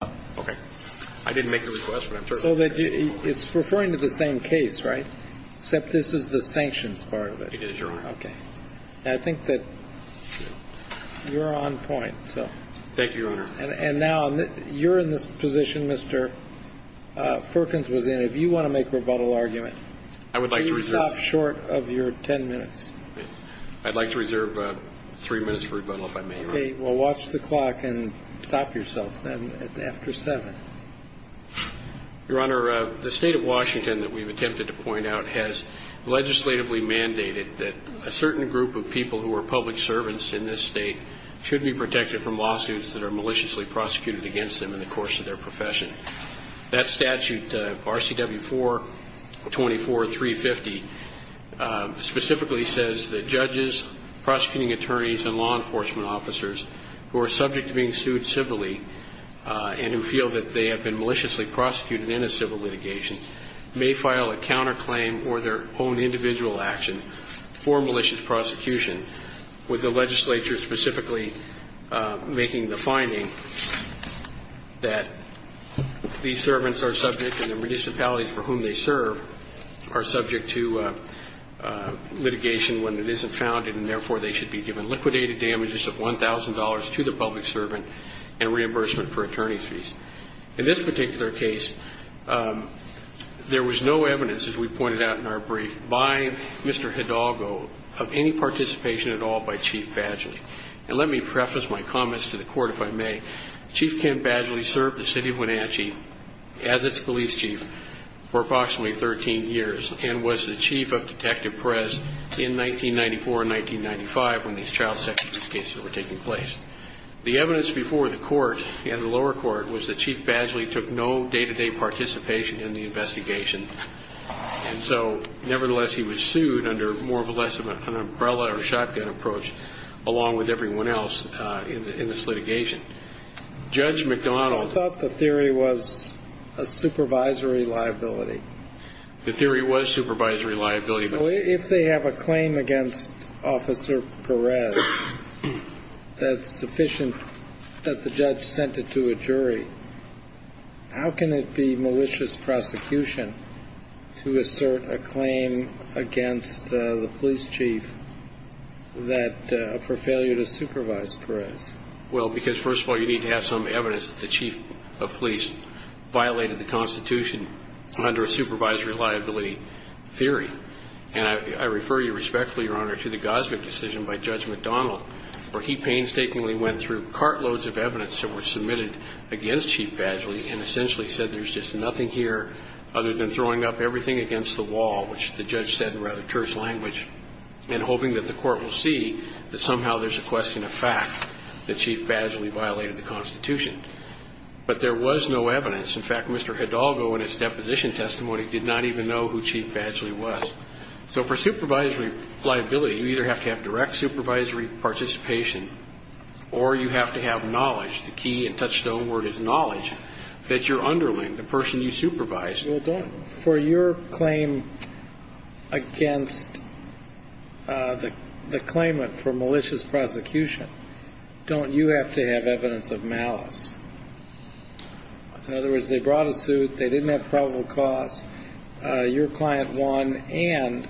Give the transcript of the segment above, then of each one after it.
I didn't make a request, but I'm sure. So that it's referring to the same case, right? Except this is the sanctions part of it. It is, Your Honor. OK. And I think that you're on point, so. Thank you, Your Honor. And now, you're in this position, Mr. Ferkens was in. If you want to make a rebuttal argument, I would like to reserve. Will you stop short of your 10 minutes? I'd like to reserve three minutes for rebuttal, if I may, Your Honor. OK, well, watch the clock and stop yourself, then, after seven. Your Honor, the state of Washington that we've attempted to point out has legislatively mandated that a certain group of people who are public servants in this state should be protected from lawsuits that are maliciously prosecuted against them in the course of their profession. That statute, RCW 424350, specifically says that judges, prosecuting attorneys, and law enforcement officers, who are subject to being sued civilly and who feel that they have been maliciously prosecuted in a civil litigation, may file a counterclaim or their own individual action for malicious prosecution, with the legislature specifically making the finding that these servants are subject and the municipalities for whom they serve are subject to litigation when it isn't founded, and therefore, they should be given liquidated damage of $1,000 to the public servant and reimbursement for attorney's fees. In this particular case, there was no evidence, as we pointed out in our brief, by Mr. Hidalgo of any participation at all by Chief Badgley. And let me preface my comments to the court, if I may. Chief Ken Badgley served the city of Wenatchee as its police chief for approximately 13 years and was the chief of detective press in 1994 and 1995 when these child sexual abuse cases were taking place. The evidence before the court and the lower court was that Chief Badgley took no day-to-day participation in the investigation, and so nevertheless, he was sued under more or less of an umbrella or shotgun approach, along with everyone else in this litigation. Judge McDonald thought the theory was a supervisory liability. The theory was supervisory liability. If they have a claim against Officer Perez that's sufficient that the judge sent it to a jury, how can it be malicious prosecution to assert a claim against the police chief for failure to supervise Perez? Well, because first of all, you need to have some evidence that the chief of police violated the Constitution under a supervisory liability theory. And I refer you respectfully, Your Honor, to the Gosvick decision by Judge McDonald, where he painstakingly went through cartloads of evidence that were submitted against Chief Badgley and essentially said there's just nothing here other than throwing up everything against the wall, which the judge said in rather terse language, and hoping that the court will see that somehow there's a question of fact that Chief Badgley violated the Constitution. But there was no evidence. In fact, Mr. Hidalgo in his deposition testimony did not even know who Chief Badgley was. So for supervisory liability, you either have to have direct supervisory participation or you have to have knowledge. The key and touchstone word is knowledge that you're underling, the person you supervise. For your claim against the claimant for malicious prosecution, don't you have to have evidence of malice? In other words, they brought a suit. They didn't have probable cause. Your client won, and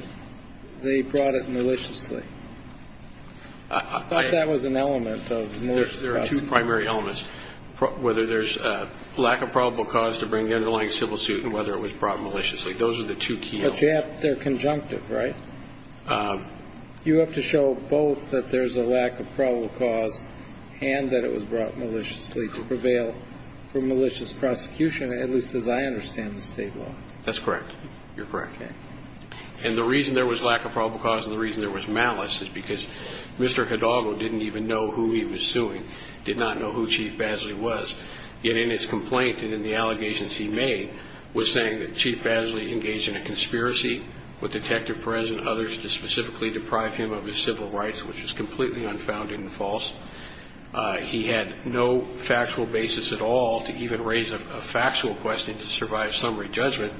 they brought it maliciously. I thought that was an element of malicious prosecution. There are two primary elements, whether there's lack of probable cause to bring the underlying civil suit and whether it was brought maliciously. Those are the two key elements. But they're conjunctive, right? You have to show both that there's a lack of probable cause and that it was brought maliciously to prevail for malicious prosecution, at least as I understand the State law. That's correct. You're correct. And the reason there was lack of probable cause and the reason there was malice is because Mr. Hidalgo didn't even know who he was suing, did not know who Chief Badgley was. Yet in his complaint and in the allegations he made, was saying that Chief Badgley engaged in a conspiracy with Detective Perez and others to specifically deprive him of his civil rights, which was completely unfounded and false. He had no factual basis at all to even raise a factual question to survive summary judgment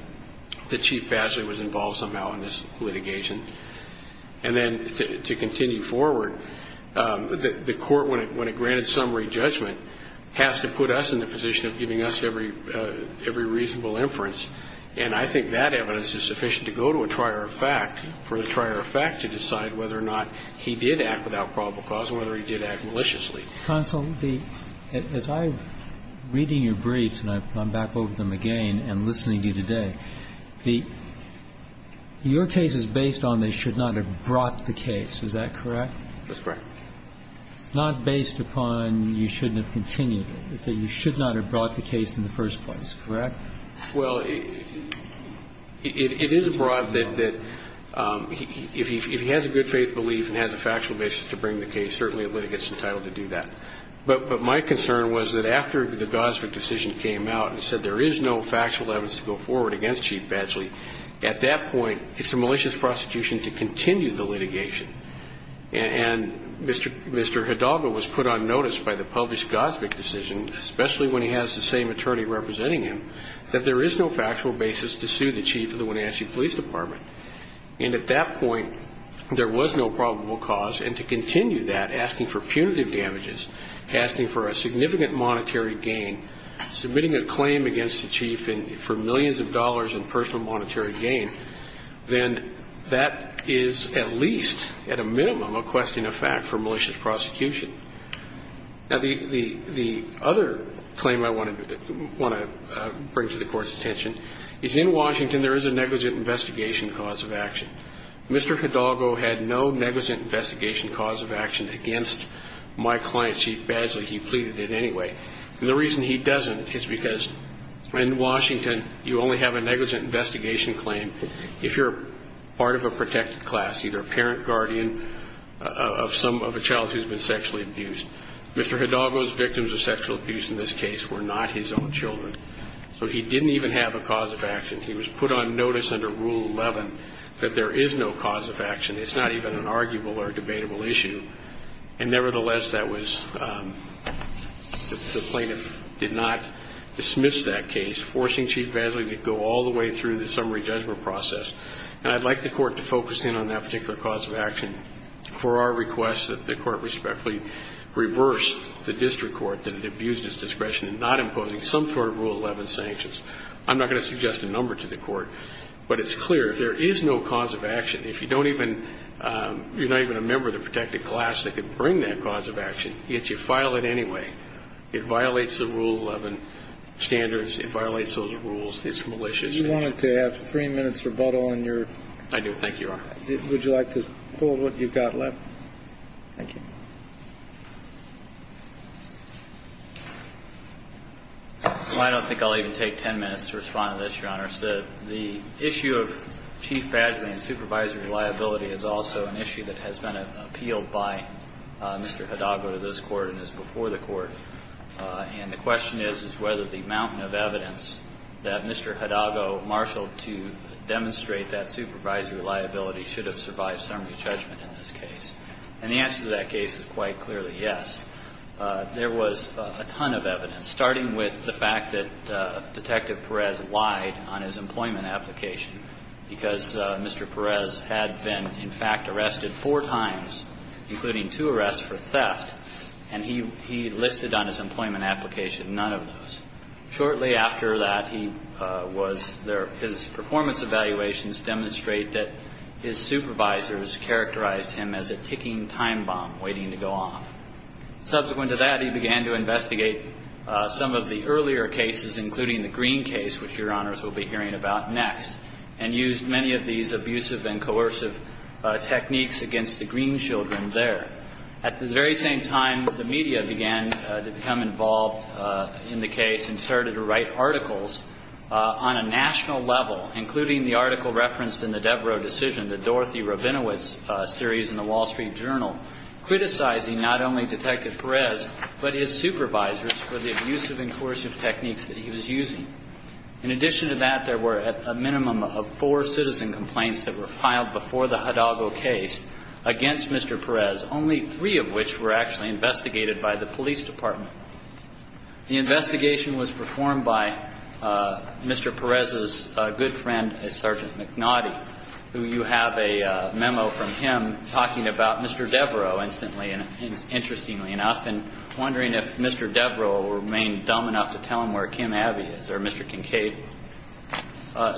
that Chief Badgley was involved somehow in this litigation. And then to continue forward, the court, when it granted summary judgment, has to put us in the position of giving us every reasonable inference. And I think that evidence is sufficient to go to a trier of fact for the trier of fact to decide whether or not he did act without probable cause and whether he did act maliciously. Counsel, as I'm reading your briefs, and I've gone back over them again and listening to you today, your case is based on they should not have brought the case. Is that correct? That's correct. It's not based upon you shouldn't have continued it. It's that you should not have brought the case in the first place. Correct? Well, it is broad that if he has a good faith belief and has a factual basis to bring the case, certainly a litigant's entitled to do that. But my concern was that after the Gosvick decision came out and said there is no factual evidence to go forward against Chief Badgley, at that point it's a malicious prosecution to continue the litigation. And Mr. Hidalgo was put on notice by the published Gosvick decision, especially when he has the same attorney representing him, that there is no factual basis to sue the Chief of the Wenatchee Police Department. And at that point, there was no probable cause. And to continue that, asking for punitive damages, asking for a significant monetary gain, submitting a claim against the Chief for millions of dollars in personal monetary gain, then that is at least, at a minimum, a question of fact for malicious prosecution. Now, the other claim I want to bring to the Court's attention is in Washington, there is a negligent investigation cause of action. Mr. Hidalgo had no negligent investigation cause of action against my client, Chief Badgley. He pleaded it anyway. And the reason he doesn't is because in Washington, you only have a negligent investigation claim if you're part of a protected class, either a parent, guardian of a child who's been sexually abused. Mr. Hidalgo's victims of sexual abuse in this case were not his own children. So he didn't even have a cause of action. He was put on notice under Rule 11 that there is no cause of action. It's not even an arguable or debatable issue. And nevertheless, that was, the plaintiff did not dismiss that case, forcing Chief Badgley to go all the way through the summary judgment process. And I'd like the Court to focus in on that particular cause of action for our request that the Court respectfully reverse the district court that had abused its discretion in not imposing some sort of Rule 11 sanctions. I'm not going to suggest a number to the Court, but it's clear there is no cause of action. If you don't even, you're not even a member of the protected class that can bring that cause of action, yet you file it anyway, it violates the Rule 11 standards, it violates those rules, it's malicious. If you wanted to have three minutes rebuttal on your... I do. Thank you, Your Honor. Would you like to hold what you've got left? Thank you. I don't think I'll even take ten minutes to respond to this, Your Honor. The issue of Chief Badgley and supervisory liability is also an issue that has been appealed by Mr. Hidago to this Court and is before the Court. And the question is, is whether the mountain of evidence that Mr. Hidago marshaled to demonstrate that supervisory liability should have survived summary judgment in this case. And the answer to that case is quite clearly yes. There was a ton of evidence, starting with the fact that Detective Perez lied on his employment application because Mr. Perez had been, in fact, arrested four times, including two arrests for theft, and he listed on his employment application none of those. Shortly after that, he was there. His performance evaluations demonstrate that his supervisors characterized him as a ticking time bomb waiting to go off. Subsequent to that, he began to investigate some of the earlier cases, including the Green case, which Your Honors will be hearing about next, and used many of these abusive and coercive techniques against the Green children there. At the very same time, the media began to become involved in the case and started to write articles on a national level, including the article referenced in the Devereux decision, the Dorothy Rabinowitz series in the Wall Street Journal, criticizing not only Detective Perez but his supervisors for the abusive and coercive techniques that he was using. In addition to that, there were a minimum of four citizen complaints that were filed before the Hidalgo case against Mr. Perez, only three of which were actually investigated by the police department. The investigation was performed by Mr. Perez's good friend, Sergeant McNaughty, who you have a memo from him talking about Mr. Devereux instantly, and interestingly enough, and wondering if Mr. Devereux will remain dumb enough to tell him where Kim Navi is, or Mr. Kincaid.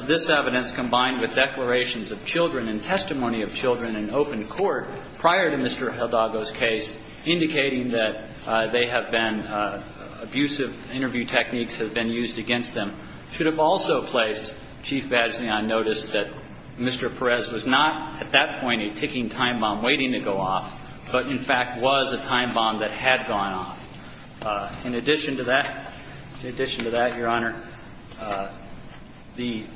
This evidence, combined with declarations of children and testimony of children in open court prior to Mr. Hidalgo's case, indicating that they have been – abusive interview techniques have been used against them, should have also placed Chief Badgley on notice that Mr. Perez was not, at that point, a ticking time bomb waiting to go off, but in fact was a time bomb that had gone off. In addition to that, in addition to that, Your Honor, the –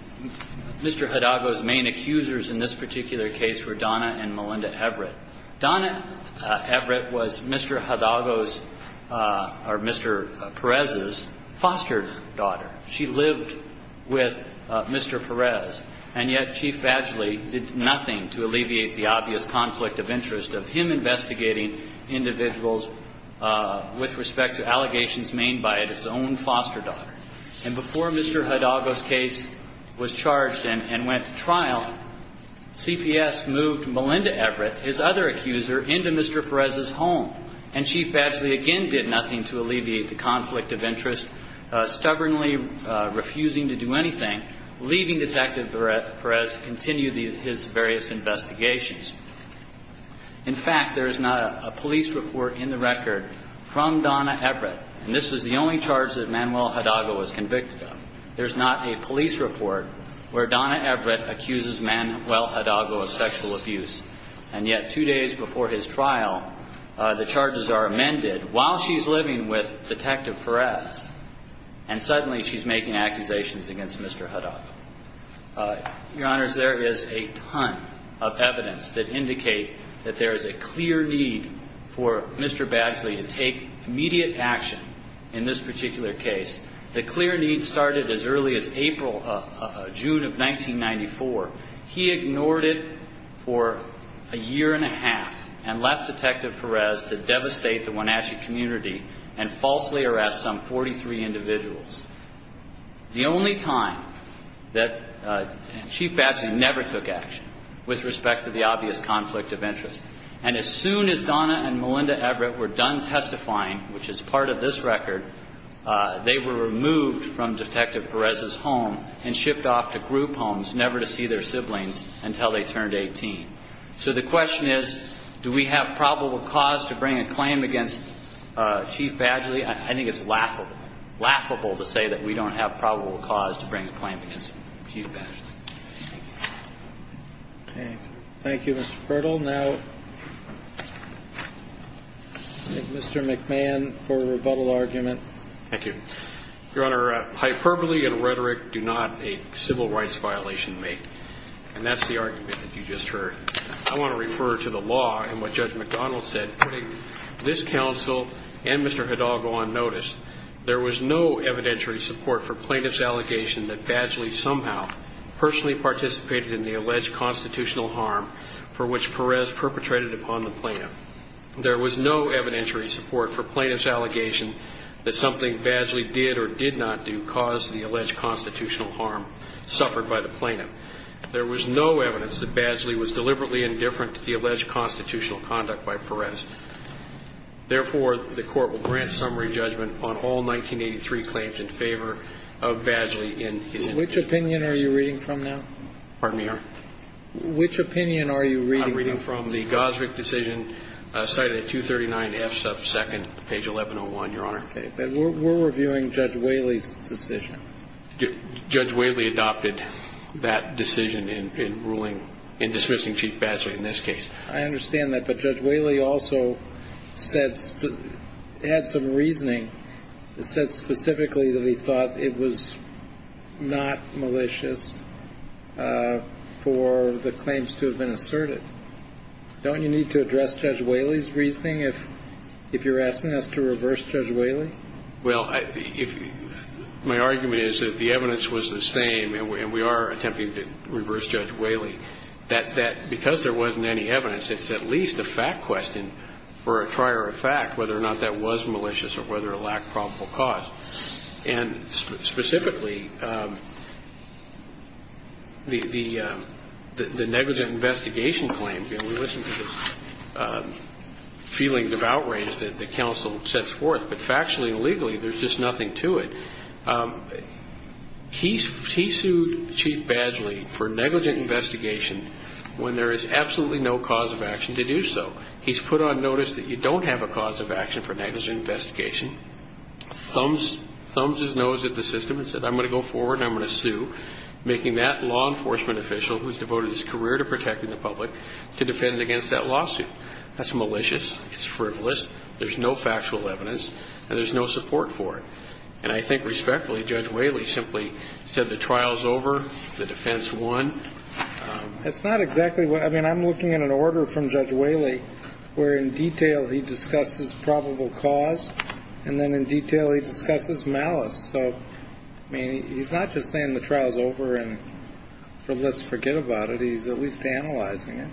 Mr. Hidalgo's main accusers in this particular case were Donna and Melinda Everett. Donna Everett was Mr. Hidalgo's – or Mr. Perez's foster daughter. She lived with Mr. Perez, and yet Chief Badgley did nothing to alleviate the obvious conflict of interest of him investigating individuals with respect to allegations made by his own foster daughter. And before Mr. Hidalgo's case was charged and went to trial, CPS moved Melinda Everett, his other accuser, into Mr. Perez's home, and Chief Badgley again did nothing to alleviate the conflict of interest, stubbornly refusing to do anything, and leaving Detective Perez to continue his various investigations. In fact, there is not a police report in the record from Donna Everett – and this was the only charge that Manuel Hidalgo was convicted of – there's not a police report where Donna Everett accuses Manuel Hidalgo of sexual abuse, and yet two days before his trial, the charges are amended while she's living with Detective Perez, and suddenly she's making accusations against Mr. Hidalgo. Your Honors, there is a ton of evidence that indicate that there is a clear need for Mr. Badgley to take immediate action in this particular case. The clear need started as early as April – June of 1994. He ignored it for a year and a half and left Detective Perez to devastate the individuals. The only time that Chief Badgley never took action with respect to the obvious conflict of interest. And as soon as Donna and Melinda Everett were done testifying, which is part of this record, they were removed from Detective Perez's home and shipped off to group homes, never to see their siblings until they turned 18. So the question is, do we have probable cause to bring a claim against Chief Badgley? I think it's laughable, laughable to say that we don't have probable cause to bring a claim against Chief Badgley. Okay. Thank you, Mr. Purtle. Now, Mr. McMahon for a rebuttal argument. Thank you. Your Honor, hyperbole and rhetoric do not a civil rights violation make, and that's the argument that you just heard. I want to refer to the law and what Judge McDonald said, putting this counsel and Mr. Hidalgo on notice. There was no evidentiary support for plaintiff's allegation that Badgley somehow personally participated in the alleged constitutional harm for which Perez perpetrated upon the plaintiff. There was no evidentiary support for plaintiff's allegation that something Badgley did or did not do caused the alleged constitutional harm suffered by the plaintiff. There was no evidence that Badgley was deliberately indifferent to the alleged constitutional conduct by Perez. Therefore, the Court will grant summary judgment on all 1983 claims in favor of Badgley in his indictment. Which opinion are you reading from now? Pardon me, Your Honor? Which opinion are you reading from? I'm reading from the Gosvick decision cited at 239F sub 2nd, page 1101, Your Honor. Okay. But we're reviewing Judge Whaley's decision. Judge Whaley adopted that decision in ruling, in dismissing Chief Badgley in this case. I understand that. But Judge Whaley also said, had some reasoning, said specifically that he thought it was not malicious for the claims to have been asserted. Don't you need to address Judge Whaley's reasoning if you're asking us to reverse Judge Whaley? Well, my argument is that the evidence was the same, and we are attempting to reverse Judge Whaley, that because there wasn't any evidence, it's at least a fact question for a prior fact whether or not that was malicious or whether it lacked probable cause. And specifically, the negligent investigation claim, you know, we listen to the feelings of outrage that the counsel sets forth. But factually and legally, there's just nothing to it. He sued Chief Badgley for negligent investigation when there is absolutely no cause of action to do so. He's put on notice that you don't have a cause of action for negligent investigation, thumbs his nose at the system and said, I'm going to go forward and I'm going to sue, making that law enforcement official who's devoted his career to protecting the public to defend against that lawsuit. That's malicious. It's frivolous. There's no factual evidence, and there's no support for it. And I think respectfully, Judge Whaley simply said the trial's over, the defense won. It's not exactly what – I mean, I'm looking at an order from Judge Whaley where in detail he discusses probable cause, and then in detail he discusses malice. So, I mean, he's not just saying the trial's over and let's forget about it. He's at least analyzing it.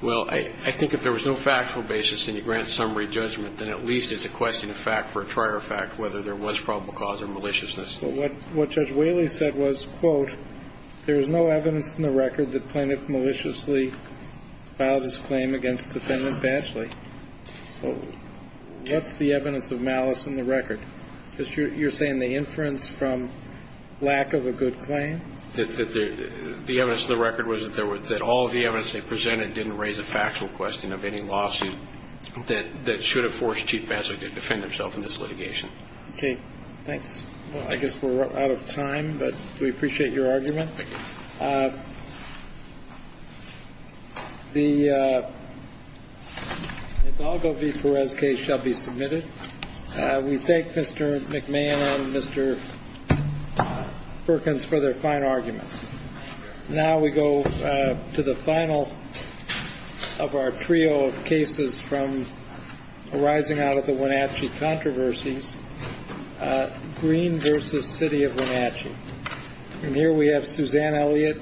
Well, I think if there was no factual basis and he grants summary judgment, then at least he would be able to say, well, there's no evidence in the record that the plaintiff maliciously filed his claim against defendant Banchly. So, what's the evidence of malice in the record? You're saying the inference from lack of a good claim? The evidence in the record was that all of the evidence they presented didn't raise a factual question of any lawsuit that should have forced Chief Banchly to get sued. So, I think that's what we're trying to get at here, is that we're trying to get the plaintiff to defend himself in this litigation. Okay, thanks. Well, I guess we're out of time, but we appreciate your argument. Thank you. The Hidalgo v. Perez case shall be submitted. We thank Mr. McMahon and Mr. Perkins for their fine arguments. Now we go to the final of our trio of cases from arising out of the Wenatchee controversies, Green v. City of Wenatchee. And here we have Suzanne Elliott.